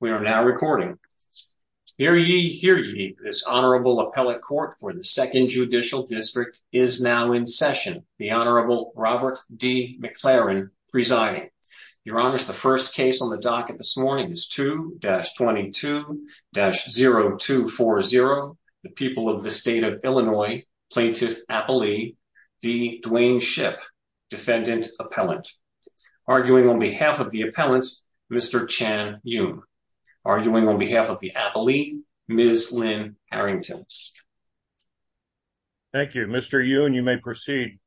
We are now recording. Hear ye, hear ye, this Honorable Appellate Court for the 2nd Judicial District is now in session. The Honorable Robert D. McLaren presiding. Your Honors, the first case on the docket this morning is 2-22-0240, the people of the state of Illinois, Plaintiff Appellee v. Dwayne Shipp, Defendant Appellant. Arguing on behalf of the Appellant, Mr. Chan Yoon. Arguing on behalf of the Appellee, Ms. Lynn Harrington. Thank you. Mr. Yoon, you may proceed.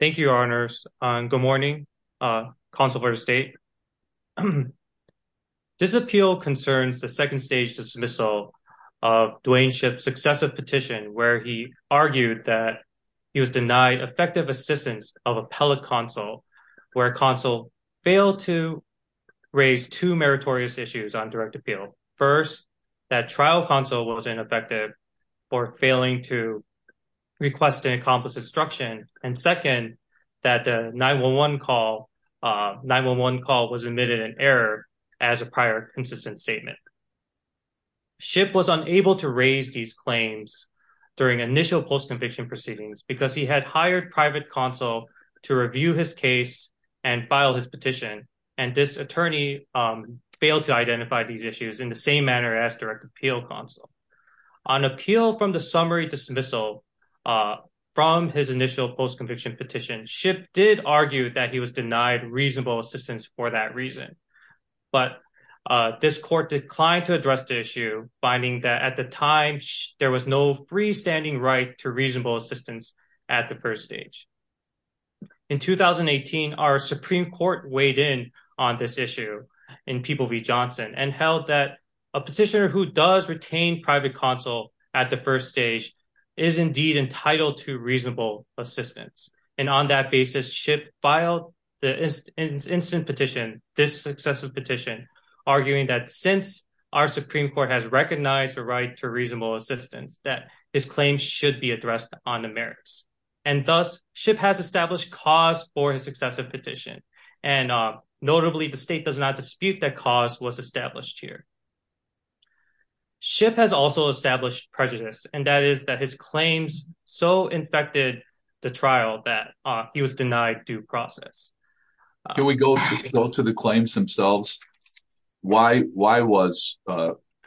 Thank you, Your Honors. Good morning, Councilmember of State. This appeal concerns the second stage dismissal of Dwayne Shipp's successive petition where he argued that he was denied effective assistance of appellate counsel where counsel failed to raise two meritorious issues on direct appeal. First, that trial counsel was ineffective for failing to request and accomplish instruction. And second, that the 9-1-1 call 9-1-1 call was admitted an error as a prior consistent statement. Shipp was unable to raise these claims during initial post-conviction proceedings because he had hired private counsel to review his case and file his petition. And this attorney failed to identify these issues in the same manner as direct appeal counsel. On appeal from the summary dismissal from his initial post-conviction petition, Shipp did argue that he was denied reasonable assistance for that reason. But this court declined to address the issue, finding that at the time there was no freestanding right to reasonable assistance at the first stage. In 2018, our Supreme Court weighed in on this issue in People v. Johnson and held that a petitioner who does retain private counsel at the first stage is indeed entitled to reasonable assistance. And on that basis, Shipp filed the instant petition, this successive petition, arguing that since our Supreme Court has recognized the right to reasonable assistance, that his claims should be addressed on the merits. And thus, Shipp has established cause for his successive petition. And notably, the state does not dispute that cause was established here. Shipp has also established prejudice, and that is that his claims so infected the trial that he was denied due process. Can we go to the claims themselves? Why was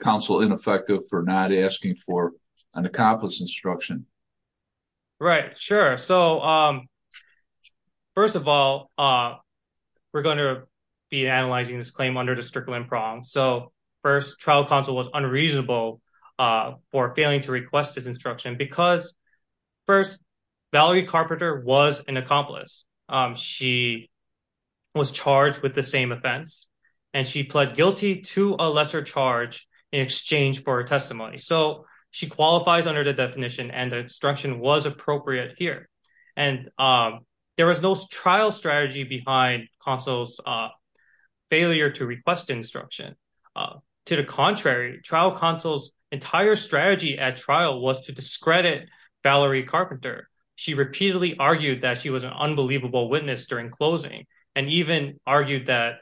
counsel ineffective for not asking for an accomplice instruction? Right, sure. So first of all, we're going to be analyzing this claim under the Strickland prong. So first, trial counsel was unreasonable for failing to request his instruction because first, Valerie Carpenter was an accomplice. She was charged with the same offense and she pled guilty to a lesser charge in exchange for testimony. So she qualifies under the definition and instruction was appropriate here. And there was no trial strategy behind counsel's failure to request instruction. To the contrary, trial counsel's entire strategy at trial was to discredit Valerie Carpenter. She repeatedly argued that she was an unbelievable witness during closing and even argued that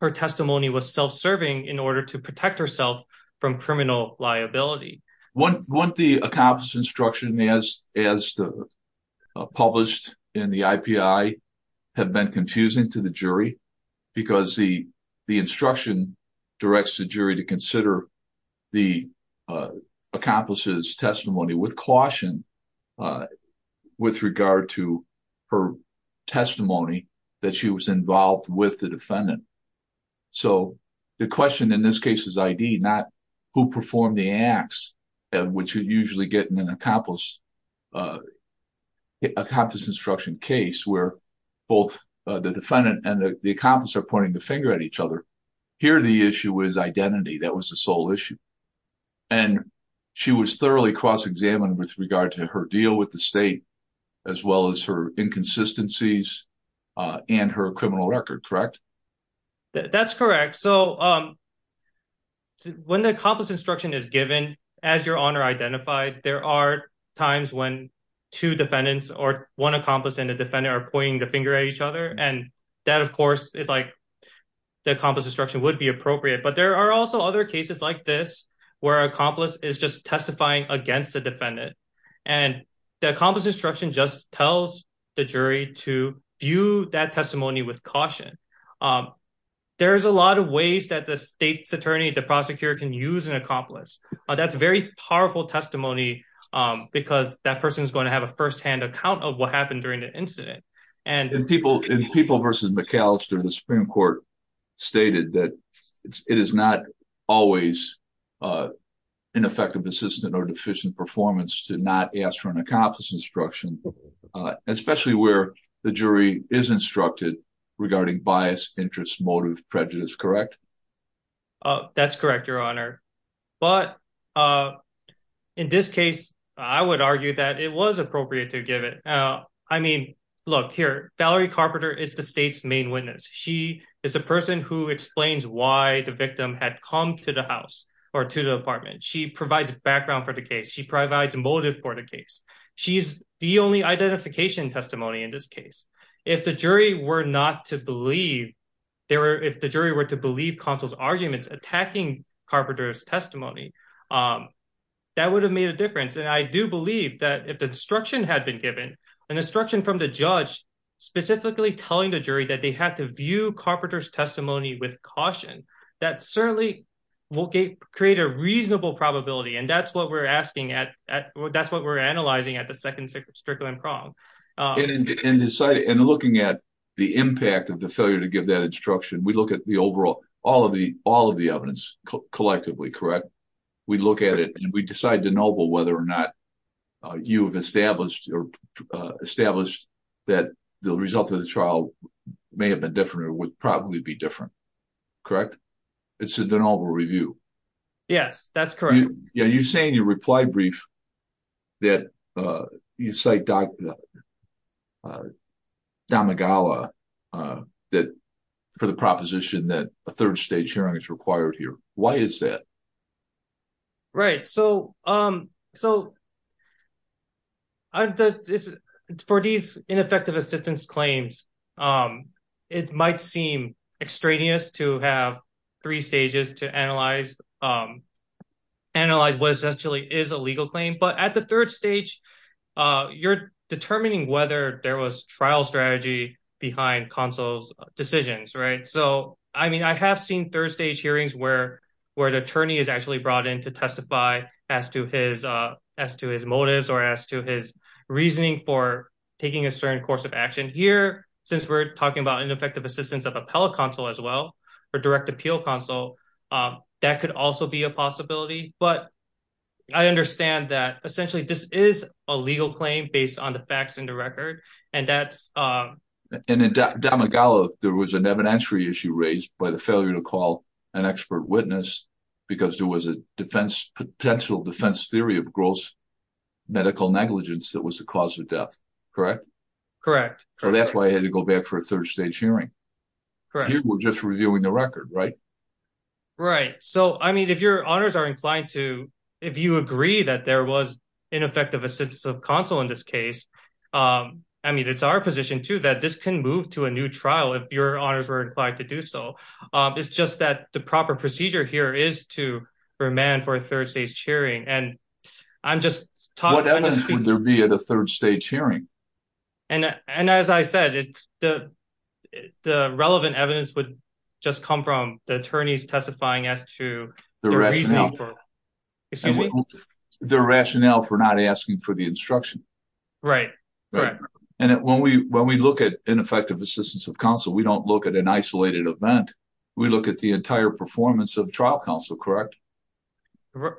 her testimony was self-serving in order to protect herself from criminal liability. Wouldn't the accomplice instruction as published in the IPI have been confusing to the jury? Because the instruction directs the jury to consider the accomplice's testimony with caution with regard to her testimony that she was involved with the defendant. So the question in this case is ID, not who performed the acts, which you usually get in an accomplice instruction case where both the defendant and the accomplice are pointing the finger at each other. Here, the issue is identity. That was the sole issue. And she was thoroughly cross-examined with regard to her deal with the state, as well as her inconsistencies and her criminal record, correct? That's correct. So when the accomplice instruction is given as your honor identified, there are times when two defendants or one accomplice and the defendant are pointing the finger at each other. And that, of course, is like the accomplice instruction would be appropriate. But there are also other cases like this where accomplice is just testifying against the defendant. And the accomplice instruction just tells the jury to view that testimony with caution. There is a lot of ways that the state's attorney, the prosecutor can use an accomplice. That's a very powerful testimony because that person is going to have a firsthand account of what happened during the incident. In People v. McAllister, the Supreme Court stated that it is not always an effective, persistent or deficient performance to not ask for an accomplice instruction, especially where the jury is instructed regarding bias, interest, motive, prejudice, correct? That's correct, your honor. But in this case, I would argue that it was appropriate to give it. I mean, look here, Valerie Carpenter is the state's main witness. She is a person who explains why the victim had come to the house or to the apartment. She provides background for the case. She provides a motive for the case. She's the only identification testimony in this case. If the jury were not to believe there were if the jury were to believe counsel's arguments attacking Carpenter's testimony, that would have made a difference. And I do believe that if the instruction had been given, an instruction from the judge specifically telling the jury that they had to view Carpenter's testimony with caution, that certainly will create a reasonable probability. And that's what we're asking at. That's what we're analyzing at the second circumstance. And in deciding and looking at the impact of the failure to give that instruction, we look at the overall all of the all of the evidence collectively. Correct. We look at it and we decide to know whether or not you have established or established that the results of the trial may have been different or would probably be different. Correct. It's a deniable review. Yes, that's correct. You know, you're saying your reply brief that you cite Dr. Damagawa that for the proposition that a third stage hearing is required here. Why is that? Right, so. So. For these ineffective assistance claims, it might seem extraneous to have three stages to analyze, analyze what essentially is a legal claim, but at the third stage, you're determining whether there was trial strategy behind counsel's decisions. Right. So, I mean, I have seen third stage hearings where where the attorney is actually brought in to testify as to his as to his motives or as to his reasoning for taking a certain course of action here. Since we're talking about ineffective assistance of appellate counsel as well for direct appeal counsel, that could also be a possibility. But I understand that essentially this is a legal claim based on the facts and the record. And in Damagawa, there was an evidentiary issue raised by the failure to call an expert witness because there was a defense potential defense theory of gross medical negligence that was the cause of death. Correct? Correct. So that's why I had to go back for a third stage hearing. Correct. You were just reviewing the record, right? Right. So, I mean, if your honors are inclined to, if you agree that there was ineffective assistance of counsel in this case, I mean, it's our position to that this can move to a new trial if your honors were inclined to do so. It's just that the proper procedure here is to remand for a third stage hearing. And I'm just talking... What evidence would there be at a third stage hearing? And as I said, the relevant evidence would just come from the attorneys testifying as to the rationale for not asking for the instruction. Right. And when we look at ineffective assistance of counsel, we don't look at an isolated event. We look at the entire performance of trial counsel. Correct?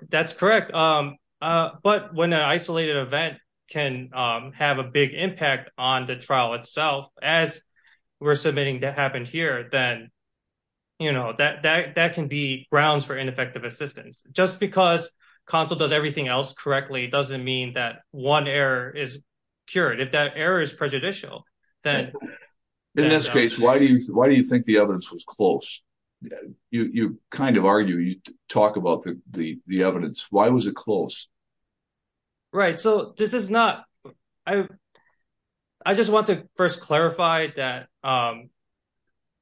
That's correct. But when an isolated event can have a big impact on the trial itself, as we're submitting that happened here, then, you know, that can be grounds for ineffective assistance. Just because counsel does everything else correctly doesn't mean that one error is cured. If that error is prejudicial, then... In this case, why do you think the evidence was close? You kind of argue, you talk about the evidence. Why was it close? Right. So this is not... I just want to first clarify that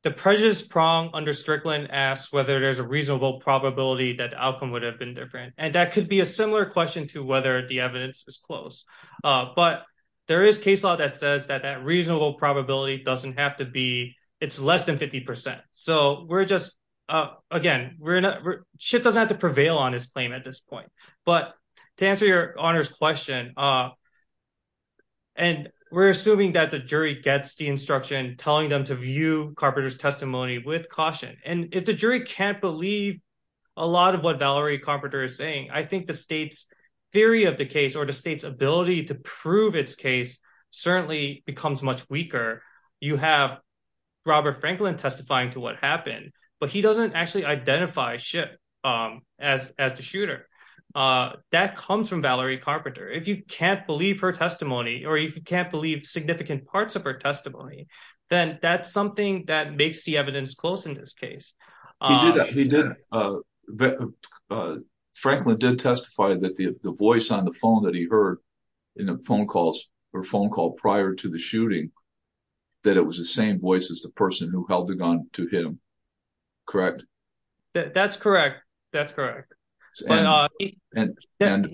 the prejudice prong under Strickland asks whether there's a reasonable probability that outcome would have been different. And that could be a similar question to whether the evidence is close. But there is case law that says that that reasonable probability doesn't have to be, it's less than 50%. So we're just, again, Chip doesn't have to prevail on his claim at this point. But to answer your Honor's question, and we're assuming that the jury gets the instruction telling them to view Carpenter's testimony with caution. And if the jury can't believe a lot of what Valerie Carpenter is saying, I think the state's theory of the case or the state's ability to prove its case certainly becomes much weaker. You have Robert Franklin testifying to what happened, but he doesn't actually identify Chip as the shooter. That comes from Valerie Carpenter. If you can't believe her testimony, or if you can't believe significant parts of her testimony, then that's something that makes the evidence close in this case. He did. Franklin did testify that the voice on the phone that he heard in a phone call prior to the shooting, that it was the same voice as the person who held the gun to him. Correct? That's correct. That's correct. Oh, go ahead.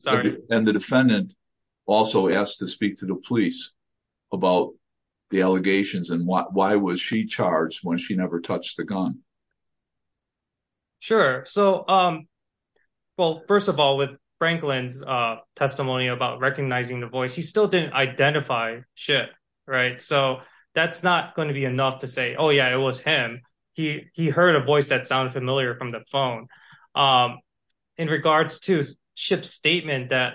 Sorry. And the defendant also asked to speak to the police about the allegations and why was she charged when she never touched the gun? Sure. So, um, well, first of all, with Franklin's testimony about recognizing the voice, he still didn't identify Chip. Right. So that's not going to be enough to say, oh, yeah, it was him. He heard a voice that sounded familiar from the phone. In regards to Chip's statement that,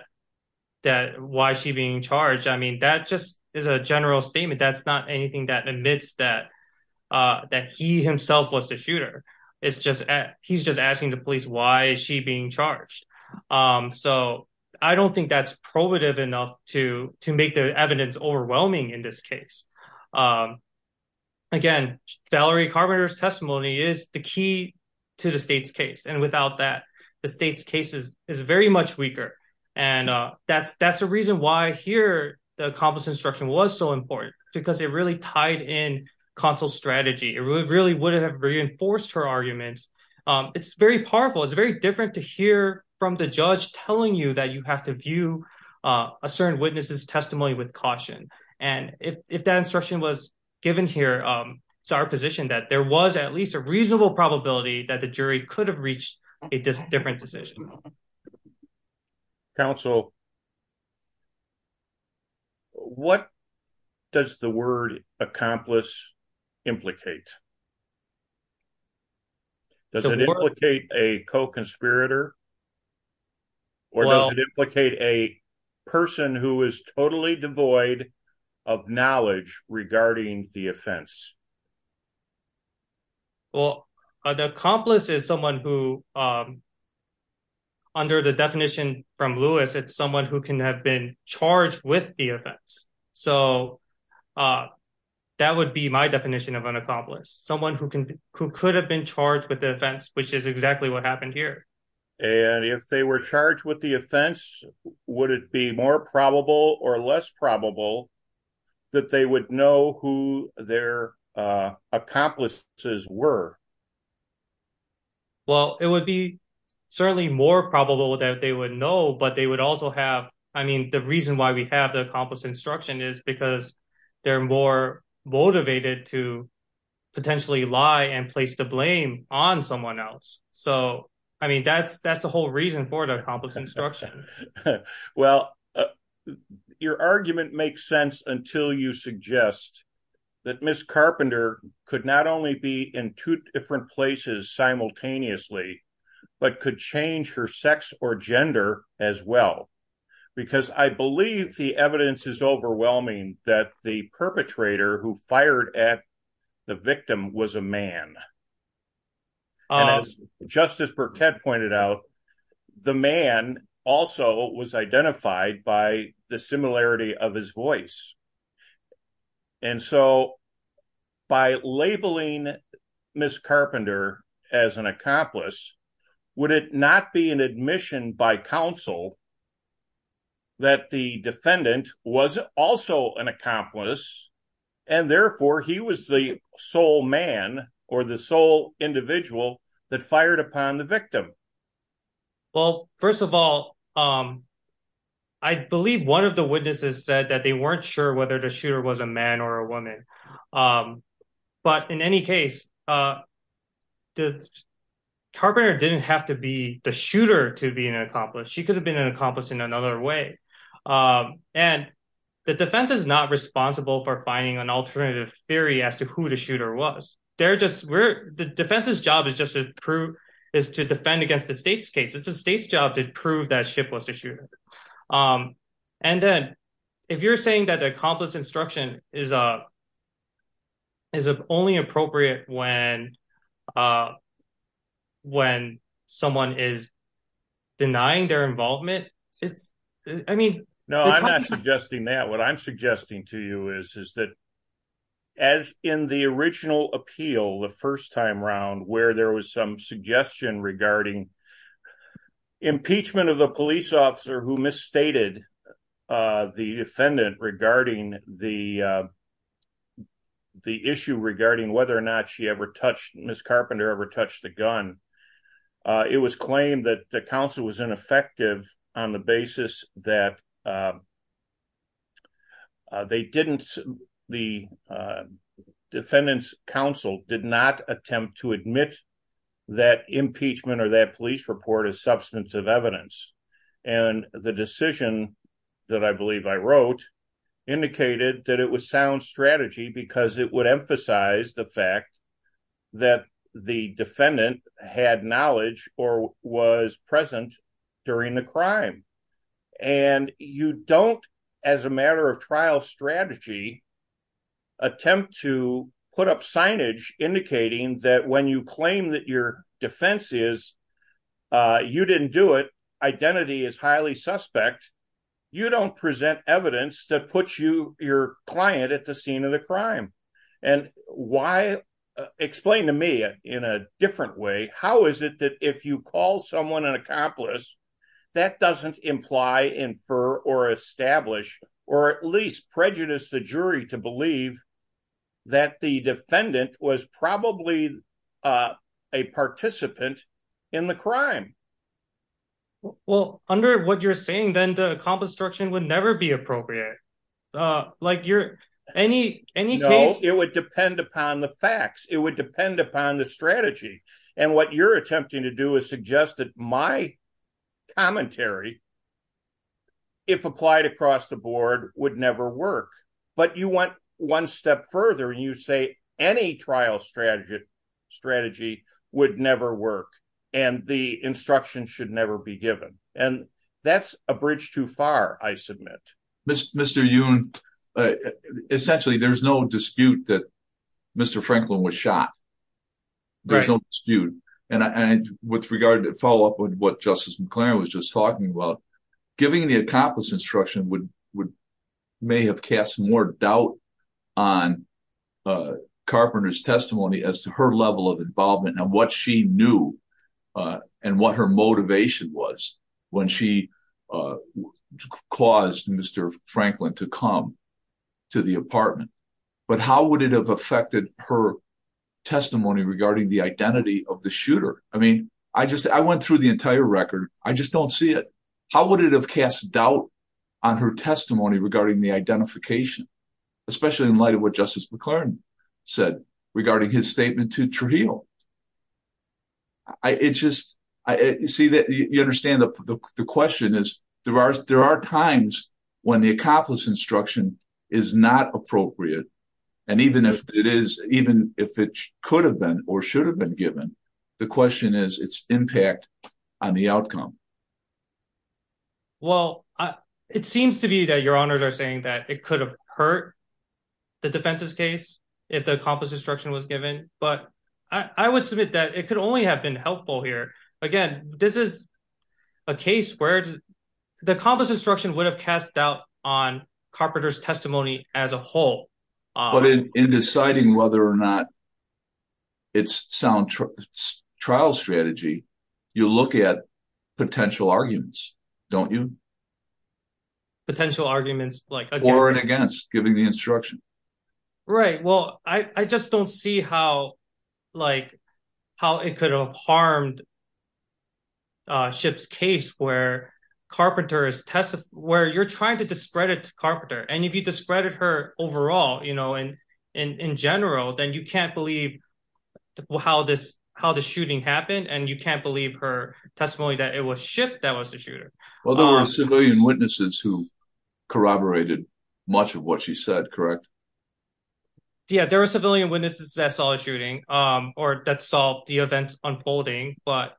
that why is she being charged? I mean, that just is a general statement. That's not anything that admits that, that he himself was the shooter. It's just, he's just asking the police why is she being charged? So, I don't think that's probative enough to to make the evidence overwhelming in this case. Again, Valerie Carpenter's testimony is the key to the state's case. And without that, the state's case is very much weaker. And that's, that's the reason why here, the accomplice instruction was so important, because it really tied in console strategy, it really, really would have reinforced her arguments. It's very powerful. It's very different to hear from the judge telling you that you have to view a certain witnesses testimony with caution. And if that instruction was given here. It's our position that there was at least a reasonable probability that the jury could have reached a different decision. Counsel. What does the word accomplice implicate? Does it implicate a co-conspirator? Or does it implicate a person who is totally devoid of knowledge regarding the offense? Well, the accomplice is someone who, under the definition from Lewis, it's someone who can have been charged with the offense. So, that would be my definition of an accomplice, someone who can, who could have been charged with the offense, which is exactly what happened here. And if they were charged with the offense, would it be more probable or less probable that they would know who their accomplices were? Well, it would be certainly more probable that they would know, but they would also have, I mean, the reason why we have the accomplice instruction is because they're more motivated to potentially lie and place the blame on someone else. So, I mean, that's, that's the whole reason for the accomplice instruction. Well, your argument makes sense until you suggest that Miss Carpenter could not only be in two different places simultaneously, but could change her sex or gender as well. Because I believe the evidence is overwhelming that the perpetrator who fired at the victim was a man. And as Justice Burkett pointed out, the man also was identified by the similarity of his voice. And so, by labeling Miss Carpenter as an accomplice, would it not be an admission by counsel that the defendant was also an accomplice and therefore he was the sole man or the sole individual that fired upon the victim? Well, first of all, I believe one of the witnesses said that they weren't sure whether the shooter was a man or a woman. But in any case, Carpenter didn't have to be the shooter to be an accomplice. She could have been an accomplice in another way. And the defense is not responsible for finding an alternative theory as to who the shooter was. The defense's job is just to prove, is to defend against the state's case. It's the state's job to prove that ship was the shooter. And then, if you're saying that the accomplice instruction is only appropriate when someone is denying their involvement, it's, I mean... The counsel who misstated the defendant regarding the issue regarding whether or not she ever touched, Miss Carpenter ever touched a gun, it was claimed that the counsel was ineffective on the basis that they didn't, the defendant's counsel did not attempt to admit that impeachment or that police report as substance of evidence. And the decision that I believe I wrote indicated that it was sound strategy because it would emphasize the fact that the defendant had knowledge or was present during the crime. And you don't, as a matter of trial strategy, attempt to put up signage indicating that when you claim that your defense is, you didn't do it, identity is highly suspect, you don't present evidence that puts your client at the scene of the crime. And why, explain to me in a different way, how is it that if you call someone an accomplice, that doesn't imply, infer, or establish, or at least prejudice the jury to believe that the defendant was probably a participant in the crime? Well, under what you're saying, then the accomplice direction would never be appropriate. Like you're, any, any case... No, it would depend upon the facts. It would depend upon the strategy. And what you're attempting to do is suggest that my commentary, if applied across the board, would never work. But you went one step further and you say any trial strategy would never work and the instruction should never be given. And that's a bridge too far, I submit. Mr. Youn, essentially, there's no dispute that Mr. Franklin was shot. There's no dispute. And with regard to follow up with what Justice McClaren was just talking about, giving the accomplice instruction would, may have cast more doubt on Carpenter's testimony as to her level of involvement and what she knew and what her motivation was when she caused Mr. Franklin's death. How would it have affected her testimony regarding the identity of the shooter? I mean, I just, I went through the entire record. I just don't see it. How would it have cast doubt on her testimony regarding the identification, especially in light of what Justice McClaren said regarding his statement to Trujillo? I, it just, I see that you understand the question is, there are times when the accomplice instruction is not appropriate. And even if it is, even if it could have been or should have been given, the question is its impact on the outcome. Well, it seems to be that your honors are saying that it could have hurt the defense's case if the accomplice instruction was given, but I would submit that it could only have been helpful here. Again, this is a case where the accomplice instruction would have cast doubt on Carpenter's testimony as a whole. But in deciding whether or not it's sound trial strategy, you look at potential arguments, don't you? Potential arguments like... Or and against, giving the instruction. Right. Well, I just don't see how, like, how it could have harmed Shipp's case where Carpenter's testimony, where you're trying to discredit Carpenter. And if you discredit her overall, you know, and in general, then you can't believe how this, how the shooting happened. And you can't believe her testimony that it was Shipp that was the shooter. Well, there were civilian witnesses who corroborated much of what she said, correct? Yeah, there were civilian witnesses that saw the shooting or that saw the events unfolding. But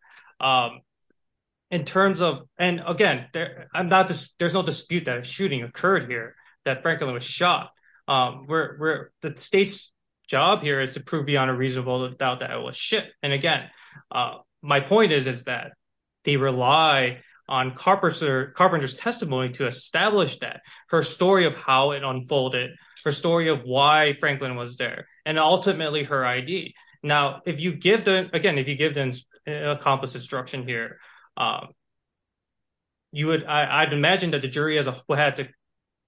in terms of, and again, I'm not, there's no dispute that a shooting occurred here that Franklin was shot. The state's job here is to prove beyond a reasonable doubt that it was Shipp. And again, my point is, is that they rely on Carpenter's testimony to establish that, her story of how it unfolded, her story of why Franklin was there, and ultimately her ID. Now, if you give the, again, if you give the accomplished instruction here, you would, I'd imagine that the jury as a whole had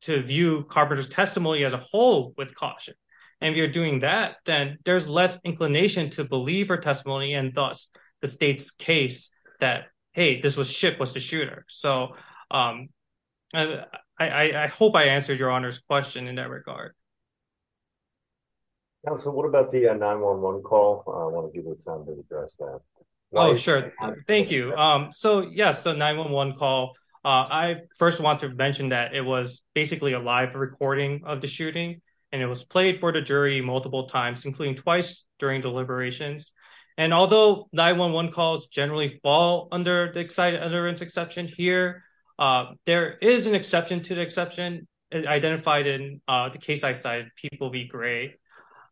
to view Carpenter's testimony as a whole with caution. And if you're doing that, then there's less inclination to believe her testimony and thus the state's case that, hey, this was Shipp was the shooter. So I hope I answered your honor's question in that regard. So what about the 9-1-1 call? I want to give you time to address that. Oh, sure. Thank you. So yes, the 9-1-1 call, I first want to mention that it was basically a live recording of the shooting and it was played for the jury multiple times, including twice during deliberations. And although 9-1-1 calls generally fall under the excited utterance exception here, there is an exception to the exception identified in the case I cited, people be gray.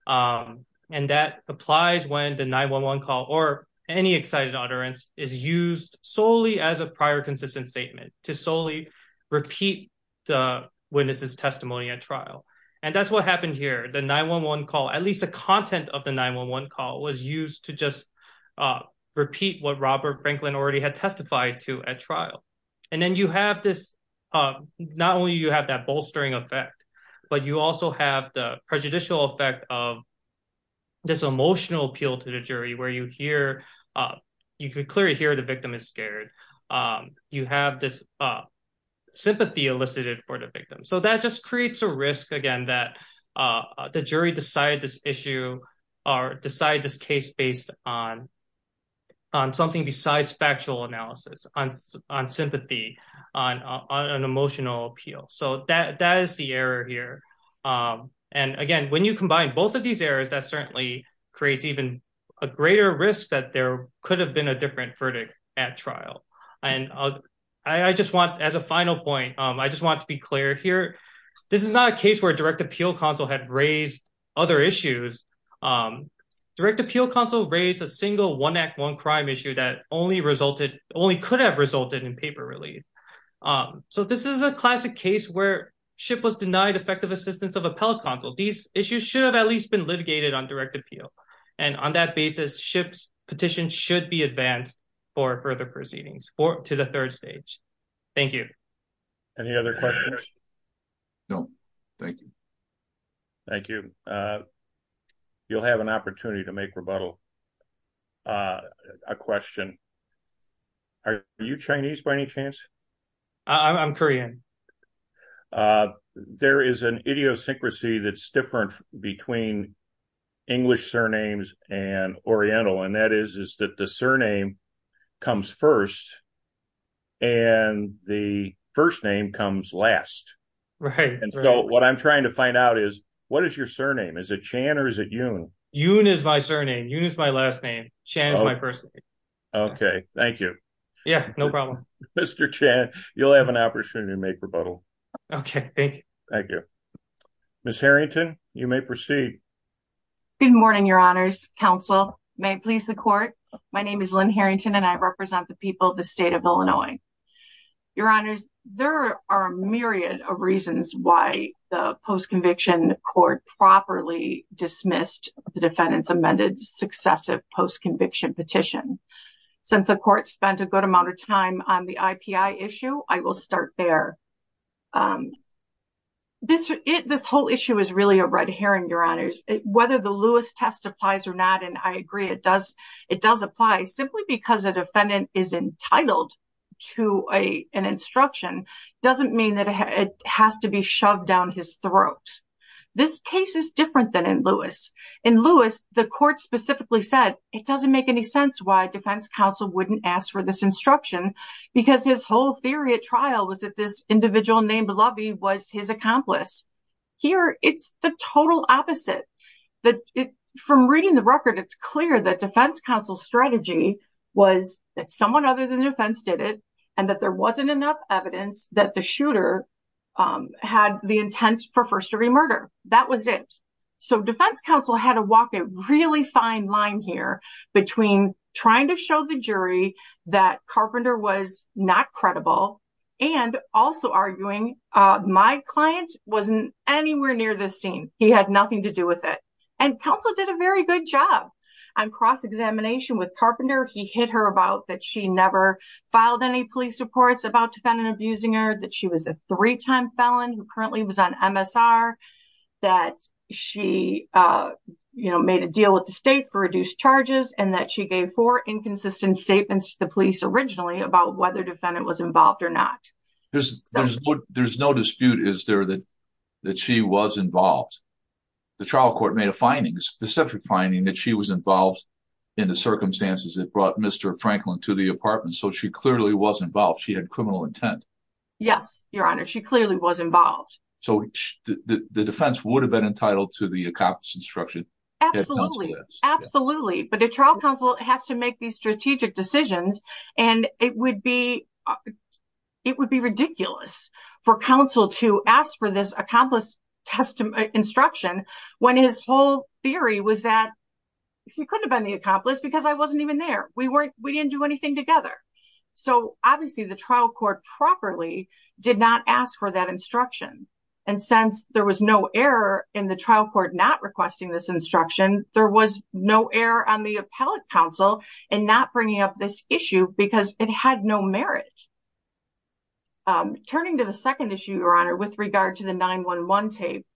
And that applies when the 9-1-1 call or any excited utterance is used solely as a prior consistent statement to solely repeat the witness's testimony at trial. And that's what happened here. The 9-1-1 call, at least the content of the 9-1-1 call was used to just repeat what Robert Franklin already had testified to at trial. And then you have this, not only you have that bolstering effect, but you also have the prejudicial effect of this emotional appeal to the jury where you hear, you could clearly hear the victim is scared. You have this sympathy elicited for the victim. So that just creates a risk again that the jury decide this issue or decide this case based on something besides factual analysis, on sympathy, on an emotional appeal. So that is the error here. And again, when you combine both of these errors, that certainly creates even a greater risk that there could have been a different verdict at trial. And I just want, as a final point, I just want to be clear here. This is not a case where direct appeal counsel had raised other issues. Direct appeal counsel raised a single one act, one crime issue that only could have resulted in paper relief. So this is a classic case where SHIP was denied effective assistance of appellate counsel. These issues should have at least been litigated on direct appeal. And on that basis, SHIP's petition should be advanced for further proceedings to the third stage. Thank you. Any other questions? No. Thank you. Thank you. You'll have an opportunity to make rebuttal. A question. Are you Chinese by any chance? I'm Korean. There is an idiosyncrasy that's different between English surnames and Oriental. And that is, is that the surname comes first and the first name comes last. Right. And so what I'm trying to find out is, what is your surname? Is it Chan or is it Yoon? Yoon is my surname. Yoon is my last name. Chan is my first name. Okay. Thank you. Yeah, no problem. Mr. Chan, you'll have an opportunity to make rebuttal. Okay. Thank you. Thank you. Ms. Harrington, you may proceed. Good morning, Your Honors. Counsel, may it please the court. My name is Lynn Harrington and I represent the people of the state of Illinois. Your Honors, there are a myriad of reasons why the post-conviction court properly dismissed the defendant's amended successive post-conviction petition. Since the court spent a good amount of time on the IPI issue, I will start there. This whole issue is really a red herring, Your Honors. Whether the Lewis test applies or not, and I agree, it does apply. Simply because a defendant is entitled to an instruction doesn't mean that it has to be shoved down his throat. This case is different than in Lewis. In Lewis, the court specifically said it doesn't make any sense why defense counsel wouldn't ask for this instruction because his whole theory at trial was that this individual named Lovey was his accomplice. Here, it's the total opposite. From reading the record, it's clear that defense counsel's strategy was that someone other than the defense did it and that there wasn't enough evidence that the shooter had the intent for first-degree murder. That was it. So defense counsel had to walk a really fine line here between trying to show the jury that Carpenter was not credible and also arguing my client wasn't anywhere near this scene. He had nothing to do with it. And counsel did a very good job on cross-examination with Carpenter. He hit her about that she never filed any police reports about the defendant abusing her, that she was a three-time felon who currently was on MSR, that she made a deal with the state for reduced charges, and that she gave four inconsistent statements to the police originally about whether the defendant was involved or not. There's no dispute, is there, that she was involved. The trial court made a finding, a specific finding, that she was involved in the circumstances that brought Mr. Franklin to the apartment. So she clearly was involved. She had criminal intent. Yes, Your Honor. She clearly was involved. So the defense would have been entitled to the accomplice instruction. Absolutely, absolutely. But a trial counsel has to make these strategic decisions, and it would be ridiculous for counsel to ask for this accomplice instruction when his whole theory was that he couldn't have been the accomplice because I wasn't even there. We didn't do anything together. So obviously the trial court properly did not ask for that instruction. And since there was no error in the trial court not requesting this instruction, there was no error on the appellate counsel in not bringing up this issue because it had no merit. Turning to the second issue, Your Honor, with regard to the 9-1-1 tape,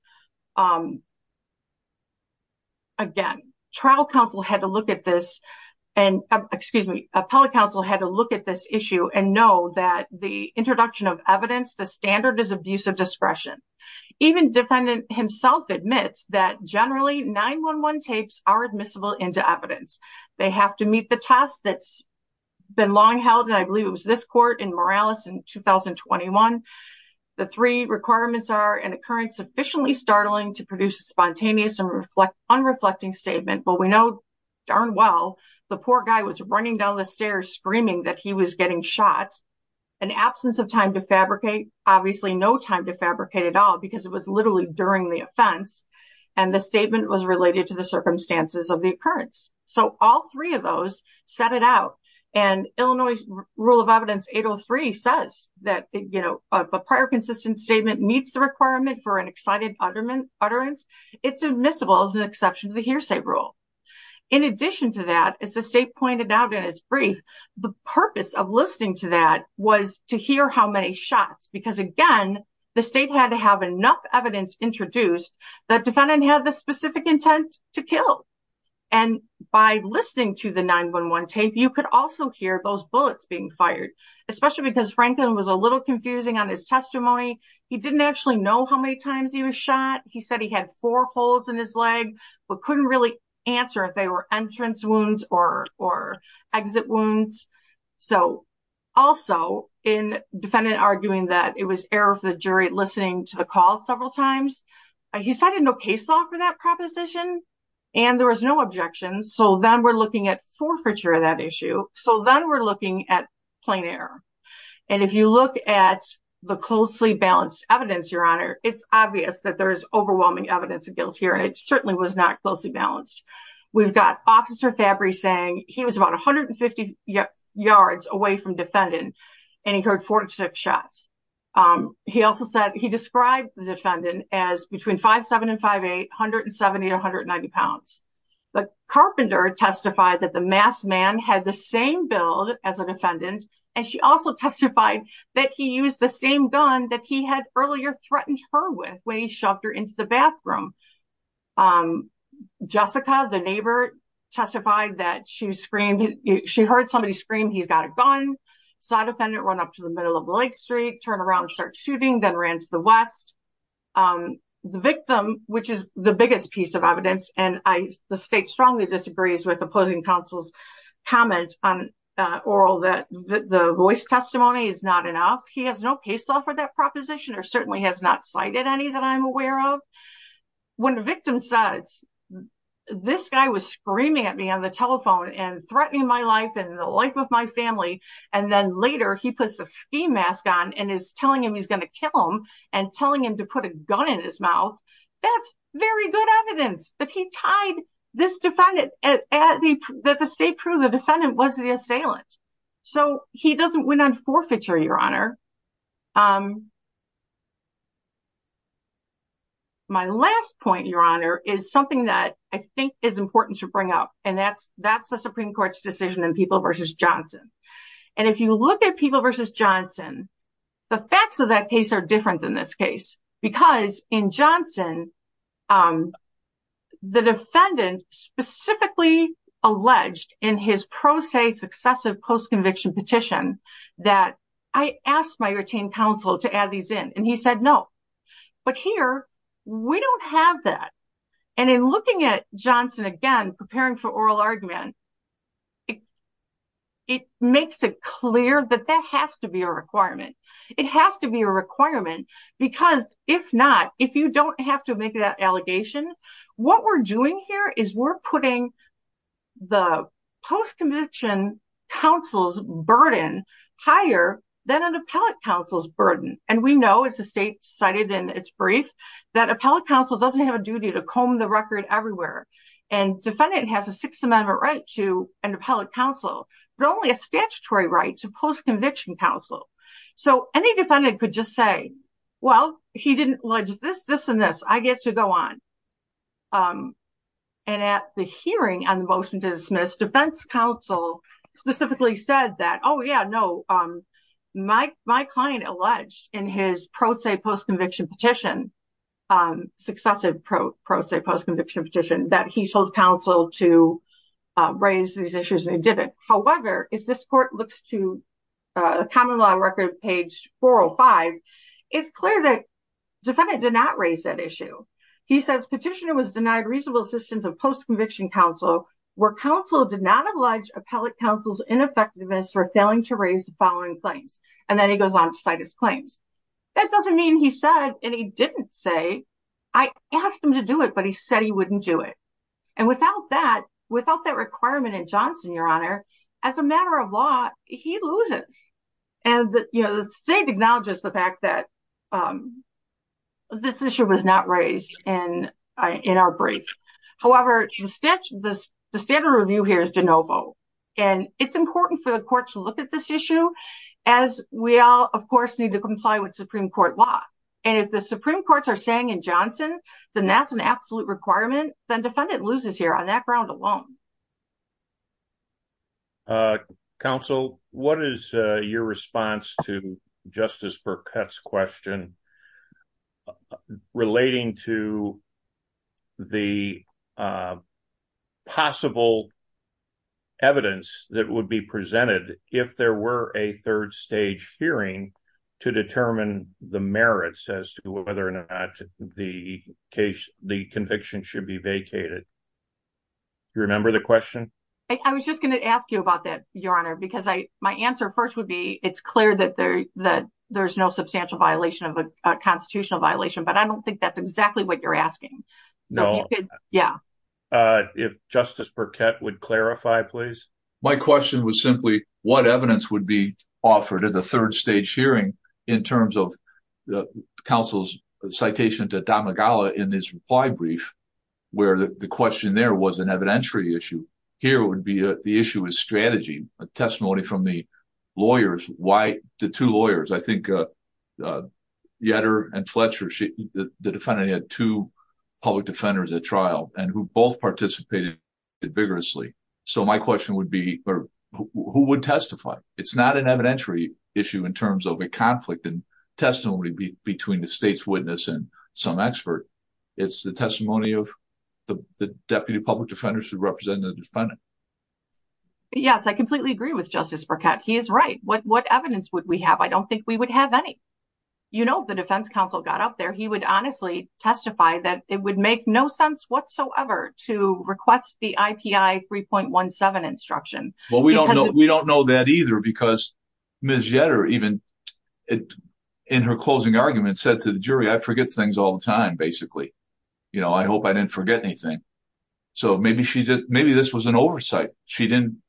again, appellate counsel had to look at this issue and know that the introduction of evidence, the standard is abuse of discretion. Even defendant himself admits that generally 9-1-1 tapes are admissible into evidence. They have to meet the test that's been long held, and I believe it was this court in Morales in 2021. The three requirements are an occurrence sufficiently startling to produce a spontaneous and unreflecting statement. But we know darn well the poor guy was running down the stairs screaming that he was getting shot. An absence of time to fabricate, obviously no time to fabricate at all because it was literally during the offense. And the statement was related to the circumstances of the occurrence. So all three of those set it out. And Illinois Rule of Evidence 803 says that a prior consistent statement meets the requirement for an excited utterance. It's admissible as an exception to the hearsay rule. In addition to that, as the state pointed out in its brief, the purpose of listening to that was to hear how many shots. Because again, the state had to have enough evidence introduced that defendant had the specific intent to kill. And by listening to the 9-1-1 tape, you could also hear those bullets being fired. Especially because Franklin was a little confusing on his testimony. He didn't actually know how many times he was shot. He said he had four holes in his leg, but couldn't really answer if they were entrance wounds or exit wounds. So also in defendant arguing that it was error for the jury listening to the call several times. He cited no case law for that proposition. And there was no objection. So then we're looking at forfeiture of that issue. So then we're looking at plain error. And if you look at the closely balanced evidence, Your Honor, it's obvious that there is overwhelming evidence of guilt here. And it certainly was not closely balanced. We've got Officer Fabry saying he was about 150 yards away from defendant. And he heard 46 shots. He also said he described the defendant as between 5'7 and 5'8, 170 to 190 pounds. But Carpenter testified that the masked man had the same build as a defendant. And she also testified that he used the same gun that he had earlier threatened her with when he shoved her into the bathroom. Jessica, the neighbor, testified that she heard somebody scream, he's got a gun. Saw defendant run up to the middle of Lake Street, turn around and start shooting, then ran to the west. The victim, which is the biggest piece of evidence, and the state strongly disagrees with opposing counsel's comment on oral that the voice testimony is not enough. He has no case law for that proposition or certainly has not cited any that I'm aware of. When the victim says, this guy was screaming at me on the telephone and threatening my life and the life of my family. And then later he puts a ski mask on and is telling him he's going to kill him and telling him to put a gun in his mouth. That's very good evidence that he tied this defendant, that the state proved the defendant was the assailant. So he doesn't win on forfeiture, Your Honor. My last point, Your Honor, is something that I think is important to bring up. And that's the Supreme Court's decision in People v. Johnson. And if you look at People v. Johnson, the facts of that case are different than this case. Because in Johnson, the defendant specifically alleged in his pro se successive post-conviction petition that I asked my retained counsel to add these in and he said no. But here, we don't have that. And in looking at Johnson again, preparing for oral argument, it makes it clear that that has to be a requirement. It has to be a requirement, because if not, if you don't have to make that allegation, what we're doing here is we're putting the post-conviction counsel's burden higher than an appellate counsel's burden. And we know, as the state cited in its brief, that appellate counsel doesn't have a duty to comb the record everywhere. And defendant has a Sixth Amendment right to an appellate counsel, but only a statutory right to post-conviction counsel. So any defendant could just say, well, he didn't allege this, this, and this. I get to go on. And at the hearing on the motion to dismiss, defense counsel specifically said that, oh yeah, no, my client alleged in his pro se post-conviction petition, successive pro se post-conviction petition, that he told counsel to raise these issues and they didn't. However, if this court looks to common law record page 405, it's clear that defendant did not raise that issue. He says petitioner was denied reasonable assistance of post-conviction counsel where counsel did not allege appellate counsel's ineffectiveness for failing to raise the following claims. And then he goes on to cite his claims. That doesn't mean he said, and he didn't say, I asked him to do it, but he said he wouldn't do it. And without that, without that requirement in Johnson, Your Honor, as a matter of law, he loses. And the state acknowledges the fact that this issue was not raised in our brief. However, the standard review here is de novo, and it's important for the court to look at this issue as we all, of course, need to comply with Supreme Court law. And if the Supreme Courts are saying in Johnson, then that's an absolute requirement. Then defendant loses here on that ground alone. Counsel, what is your response to Justice Burkett's question relating to the possible evidence that would be presented if there were a third stage hearing to determine the merits as to whether or not the case, the conviction should be vacated. You remember the question? I was just going to ask you about that, Your Honor, because I, my answer first would be, it's clear that there, that there's no substantial violation of a constitutional violation, but I don't think that's exactly what you're asking. No. Yeah. If Justice Burkett would clarify, please. My question was simply what evidence would be offered at the third stage hearing in terms of the counsel's citation to Donna Gala in his reply brief, where the question there was an evidentiary issue. Here would be the issue is strategy, a testimony from the lawyers. Why the two lawyers? I think Yetter and Fletcher, the defendant had two public defenders at trial and who both participated vigorously. So my question would be, who would testify? It's not an evidentiary issue in terms of a conflict and testimony between the state's witness and some expert. It's the testimony of the deputy public defenders who represent the defendant. Yes, I completely agree with Justice Burkett. He is right. What evidence would we have? I don't think we would have any. You know, the defense counsel got up there. He would honestly testify that it would make no sense whatsoever to request the IPI 3.17 instruction. Well, we don't know. We don't know that either, because Ms. Yetter even in her closing argument said to the jury, I forget things all the time, basically. You know, I hope I didn't forget anything. So maybe this was an oversight. She didn't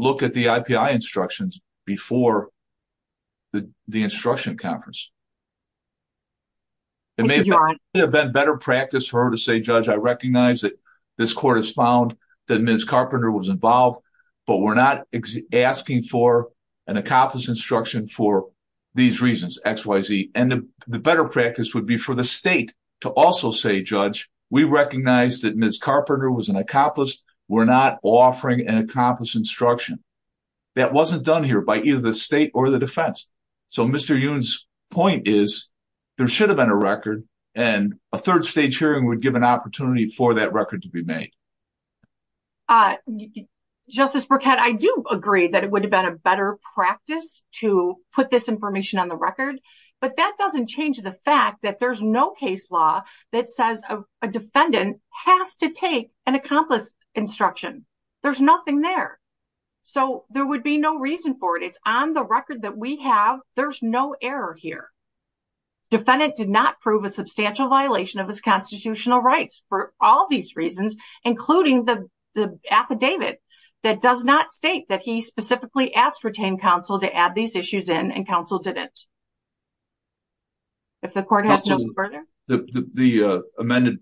look at the IPI instructions before the instruction conference. It may have been better practice for her to say, Judge, I recognize that this court has found that Ms. Carpenter was involved, but we're not asking for an accomplice instruction for these reasons, X, Y, Z. And the better practice would be for the state to also say, Judge, we recognize that Ms. Carpenter was an accomplice. We're not offering an accomplice instruction. That wasn't done here by either the state or the defense. So Mr. Yoon's point is, there should have been a record and a third stage hearing would give an opportunity for that record to be made. Justice Burkett, I do agree that it would have been a better practice to put this information on the record. But that doesn't change the fact that there's no case law that says a defendant has to take an accomplice instruction. There's nothing there. So there would be no reason for it. It's on the record that we have. There's no error here. Defendant did not prove a substantial violation of his constitutional rights for all these reasons, including the affidavit that does not state that he specifically asked retained counsel to add these issues in and counsel didn't. If the court has no further, the amended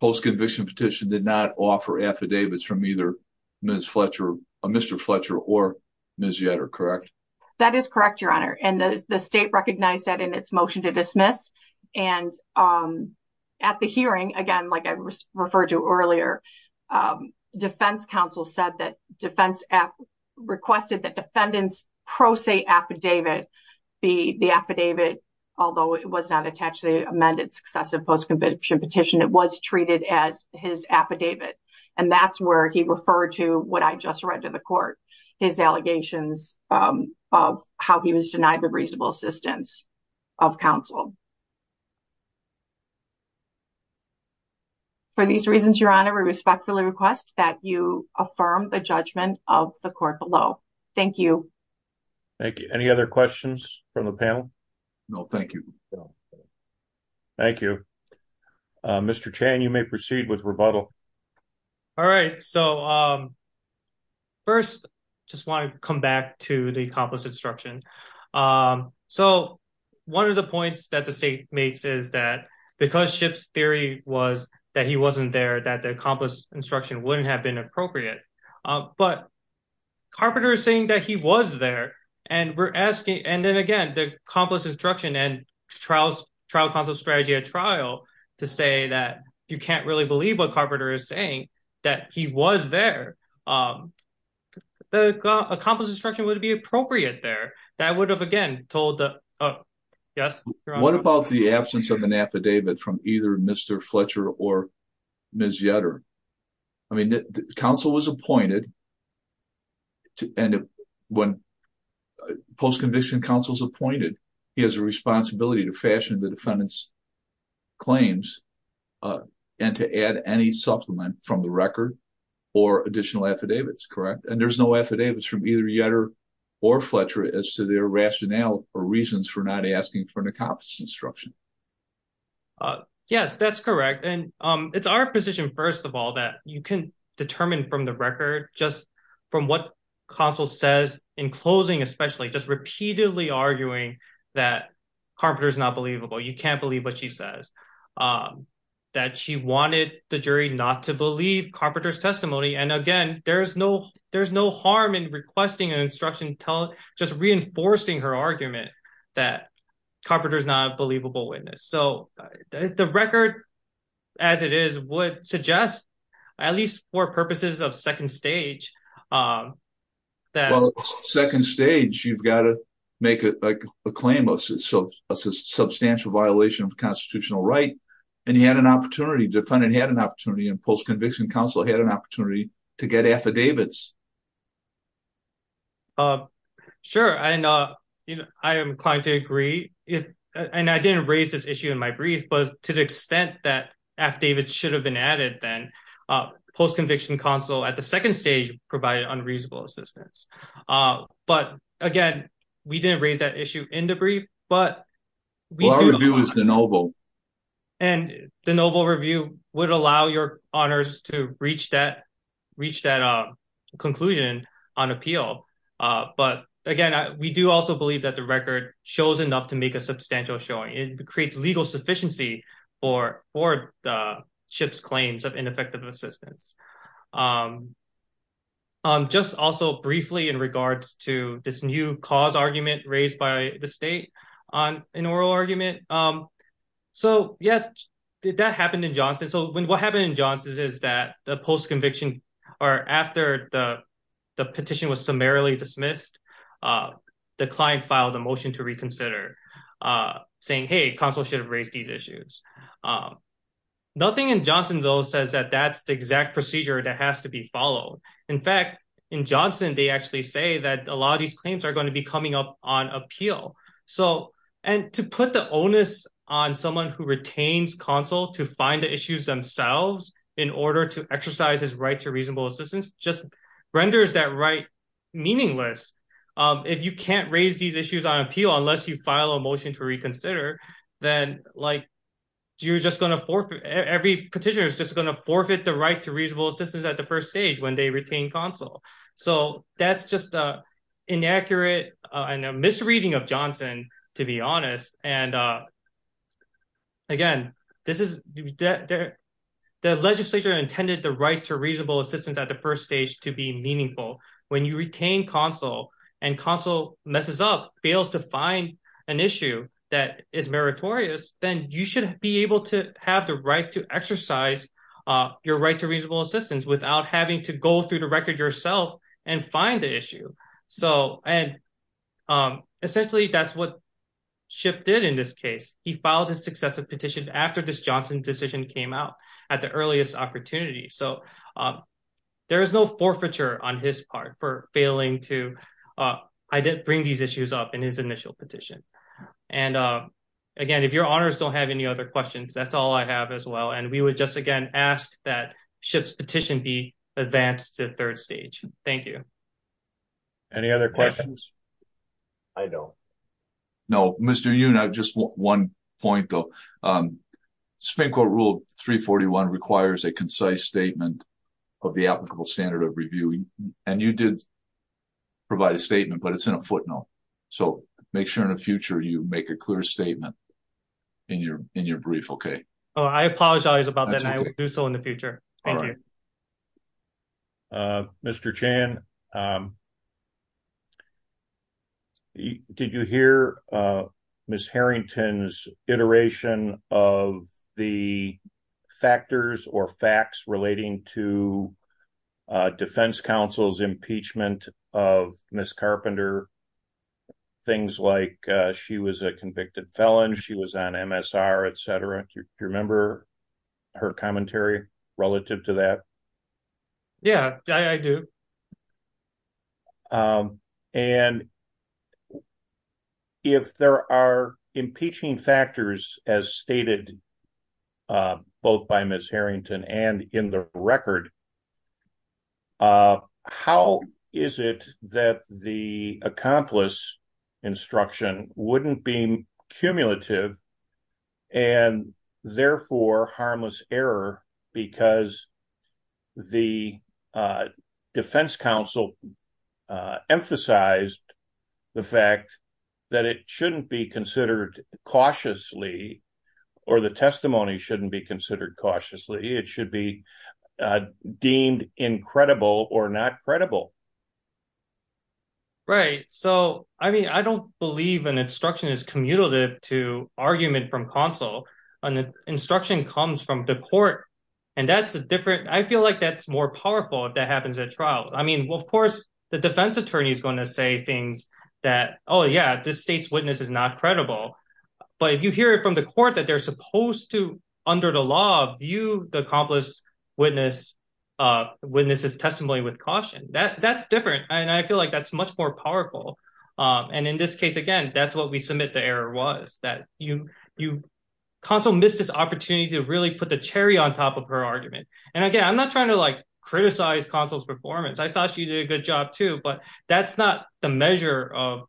post-conviction petition did not offer affidavits from either Ms. Fletcher, Mr. Fletcher or Ms. Yetter, correct? That is correct, Your Honor. And the state recognized that in its motion to dismiss. And at the hearing, again, like I referred to earlier, defense counsel said that defense requested that defendants pro se affidavit be the affidavit, although it was not attached to the amended successive post-conviction petition, it was treated as his affidavit. And that's where he referred to what I just read to the court, his allegations of how he was denied the reasonable assistance of counsel. For these reasons, Your Honor, we respectfully request that you affirm the judgment of the court below. Thank you. Thank you. Any other questions from the panel? No, thank you. Thank you. Mr. Chan, you may proceed with rebuttal. All right. So first, just want to come back to the accomplice instruction. So one of the points that the state makes is that because Schiff's theory was that he wasn't there, that the accomplice instruction wouldn't have been appropriate. But Carpenter is saying that he was there, and we're asking, and then again, the accomplice instruction and trial counsel's strategy at trial to say that you can't really believe what Carpenter is saying, that he was there. The accomplice instruction wouldn't be appropriate there. That would have, again, told the... What about the absence of an affidavit from either Mr. Fletcher or Ms. Yetter? I mean, counsel was appointed, and when post-conviction counsel's appointed, he has a responsibility to fashion the defendant's claims and to add any supplement from the record or additional affidavits, correct? And there's no affidavits from either Yetter or Fletcher as to their rationale or reasons for not asking for an accomplice instruction. Yes, that's correct. And it's our position, first of all, that you can determine from the record just from what counsel says in closing, especially just repeatedly arguing that Carpenter is not believable. You can't believe what she says, that she wanted the jury not to believe Carpenter's testimony. And again, there's no harm in requesting an instruction just reinforcing her argument that Carpenter is not a believable witness. So the record as it is would suggest, at least for purposes of second stage, that... Sure, and I am inclined to agree. And I didn't raise this issue in my brief, but to the extent that affidavits should have been added then, post-conviction counsel at the second stage provided unreasonable assistance. But again, we didn't raise that issue in the brief, but... Well, our review is de novo. And the novel review would allow your honors to reach that conclusion on appeal. But again, we do also believe that the record shows enough to make a substantial showing. It creates legal sufficiency for the ship's claims of ineffective assistance. Just also briefly in regards to this new cause argument raised by the state on an oral argument. So yes, that happened in Johnson. So what happened in Johnson is that the post-conviction or after the petition was summarily dismissed, the client filed a motion to reconsider saying, hey, counsel should have raised these issues. Nothing in Johnson, though, says that that's the exact procedure that has to be followed. In fact, in Johnson, they actually say that a lot of these claims are going to be coming up on appeal. And to put the onus on someone who retains counsel to find the issues themselves in order to exercise his right to reasonable assistance just renders that right meaningless. If you can't raise these issues on appeal unless you file a motion to reconsider, then every petitioner is just going to forfeit the right to reasonable assistance at the first stage when they retain counsel. So that's just inaccurate and a misreading of Johnson, to be honest. And again, the legislature intended the right to reasonable assistance at the first stage to be meaningful. When you retain counsel and counsel messes up, fails to find an issue that is meritorious, then you should be able to have the right to exercise your right to reasonable assistance without having to go through the record yourself and find the issue. So, and essentially, that's what Shipp did in this case. He filed a successive petition after this Johnson decision came out at the earliest opportunity. So there is no forfeiture on his part for failing to bring these issues up in his initial petition. And again, if your honors don't have any other questions, that's all I have as well. And we would just again ask that Shipp's petition be advanced to third stage. Thank you. Any other questions? I don't. No, Mr. Yoon, I just want one point though. Spank quote rule 341 requires a concise statement of the applicable standard of reviewing. And you did provide a statement, but it's in a footnote. So make sure in the future you make a clear statement in your, in your brief. Okay. Oh, I apologize about that. I will do so in the future. Thank you. Mr. Chan, did you hear Miss Harrington's iteration of the factors or facts relating to defense counsel's impeachment of Miss Carpenter? Things like she was a convicted felon, she was on MSR, etc. Do you remember her commentary relative to that? Yeah, I do. And if there are impeaching factors as stated, both by Miss Harrington and in the record, how is it that the accomplice instruction wouldn't be cumulative and therefore harmless error because the defense counsel emphasized the fact that it shouldn't be considered cautiously, or the testimony shouldn't be considered cautiously, it should be deemed incredible or not credible. Right. So, I mean, I don't believe an instruction is cumulative to argument from counsel on the instruction comes from the court. And that's a different, I feel like that's more powerful if that happens at trial. I mean, well, of course, the defense attorney is going to say things that, oh yeah, this state's witness is not credible. But if you hear it from the court that they're supposed to, under the law, view the accomplice witness's testimony with caution, that's different. And I feel like that's much more powerful. And in this case, again, that's what we submit the error was that you counsel missed this opportunity to really put the cherry on top of her argument. And again, I'm not trying to like criticize counsel's performance. I thought she did a good job too, but that's not the measure of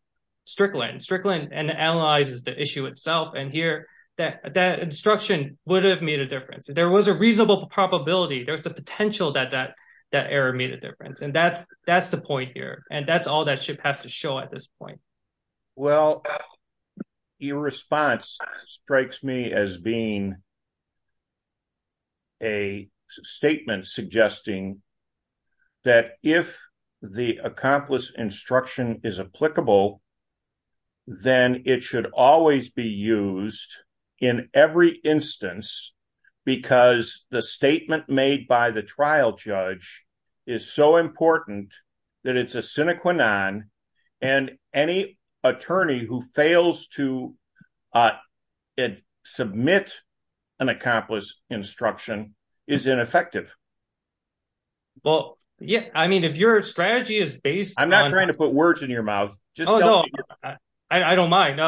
Strickland. Strickland analyzes the issue itself. And here, that instruction would have made a difference. There was a reasonable probability, there's the potential that that error made a difference. And that's the point here. And that's all that has to show at this point. Well, your response strikes me as being a statement suggesting that if the accomplice instruction is applicable, then it should always be used in every instance, because the statement made by the trial judge is so important that it's a sine qua sine. And any attorney who fails to submit an accomplice instruction is ineffective. Well, yeah, I mean, if your strategy is based... I'm not trying to put words in your mouth. I don't mind.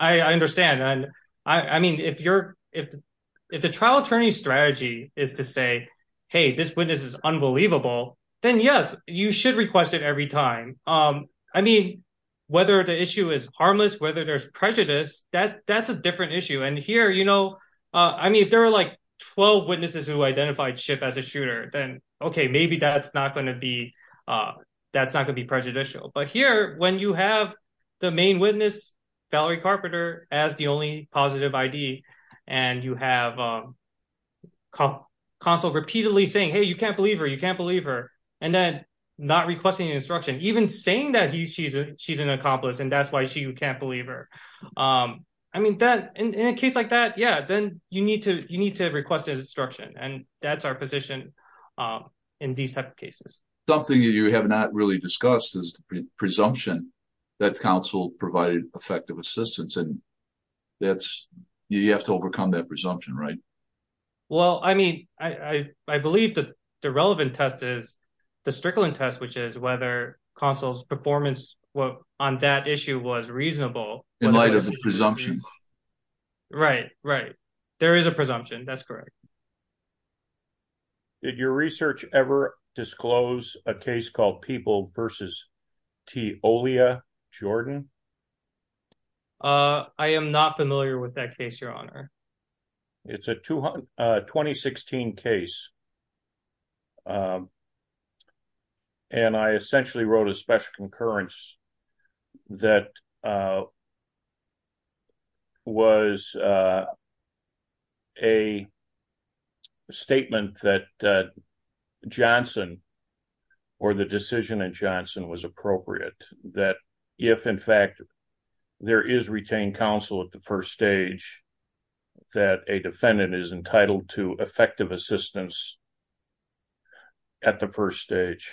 I understand. And I mean, if the trial attorney's strategy is to say, hey, this witness is unbelievable, then yes, you should request it every time. I mean, whether the issue is harmless, whether there's prejudice, that's a different issue. And here, you know, I mean, if there are like 12 witnesses who identified Chip as a shooter, then okay, maybe that's not going to be prejudicial. But here, when you have the main witness, Valerie Carpenter, as the only positive ID, and you have counsel repeatedly saying, hey, you can't believe her, you can't believe her. And then not requesting an instruction, even saying that she's an accomplice, and that's why she can't believe her. I mean, in a case like that, yeah, then you need to request an instruction. And that's our position in these type of cases. Something that you have not really discussed is the presumption that counsel provided effective assistance, and you have to overcome that presumption, right? Well, I mean, I believe that the relevant test is the Strickland test, which is whether counsel's performance on that issue was reasonable. In light of the presumption. Right, right. There is a presumption. That's correct. Did your research ever disclose a case called People v. Teolia Jordan? I am not familiar with that case, Your Honor. It's a 2016 case. And I essentially wrote a special concurrence that was a statement that Johnson, or the decision in Johnson was appropriate, that if in fact, there is retained counsel at the first stage, that a defendant is entitled to effective assistance. At the first stage,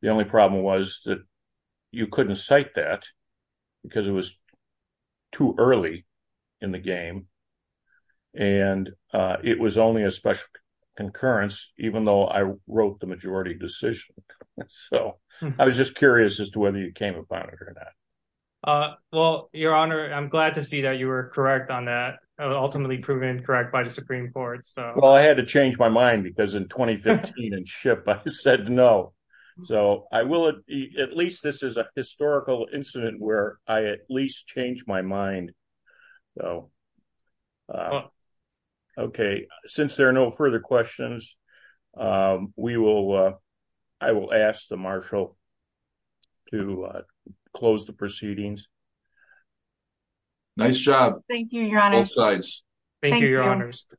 the only problem was that you couldn't cite that because it was too early in the game. And it was only a special concurrence, even though I wrote the majority decision. So I was just curious as to whether you came upon it or not. Well, Your Honor, I'm glad to see that you were correct on that, ultimately proven correct by the Supreme Court. Well, I had to change my mind because in 2015 in SHIP, I said no. So I will, at least this is a historical incident where I at least changed my mind. Okay, since there are no further questions, we will, I will ask the Marshal to close the proceedings. Nice job. Thank you, Your Honor. Both sides. Thank you, Your Honors. Thank you.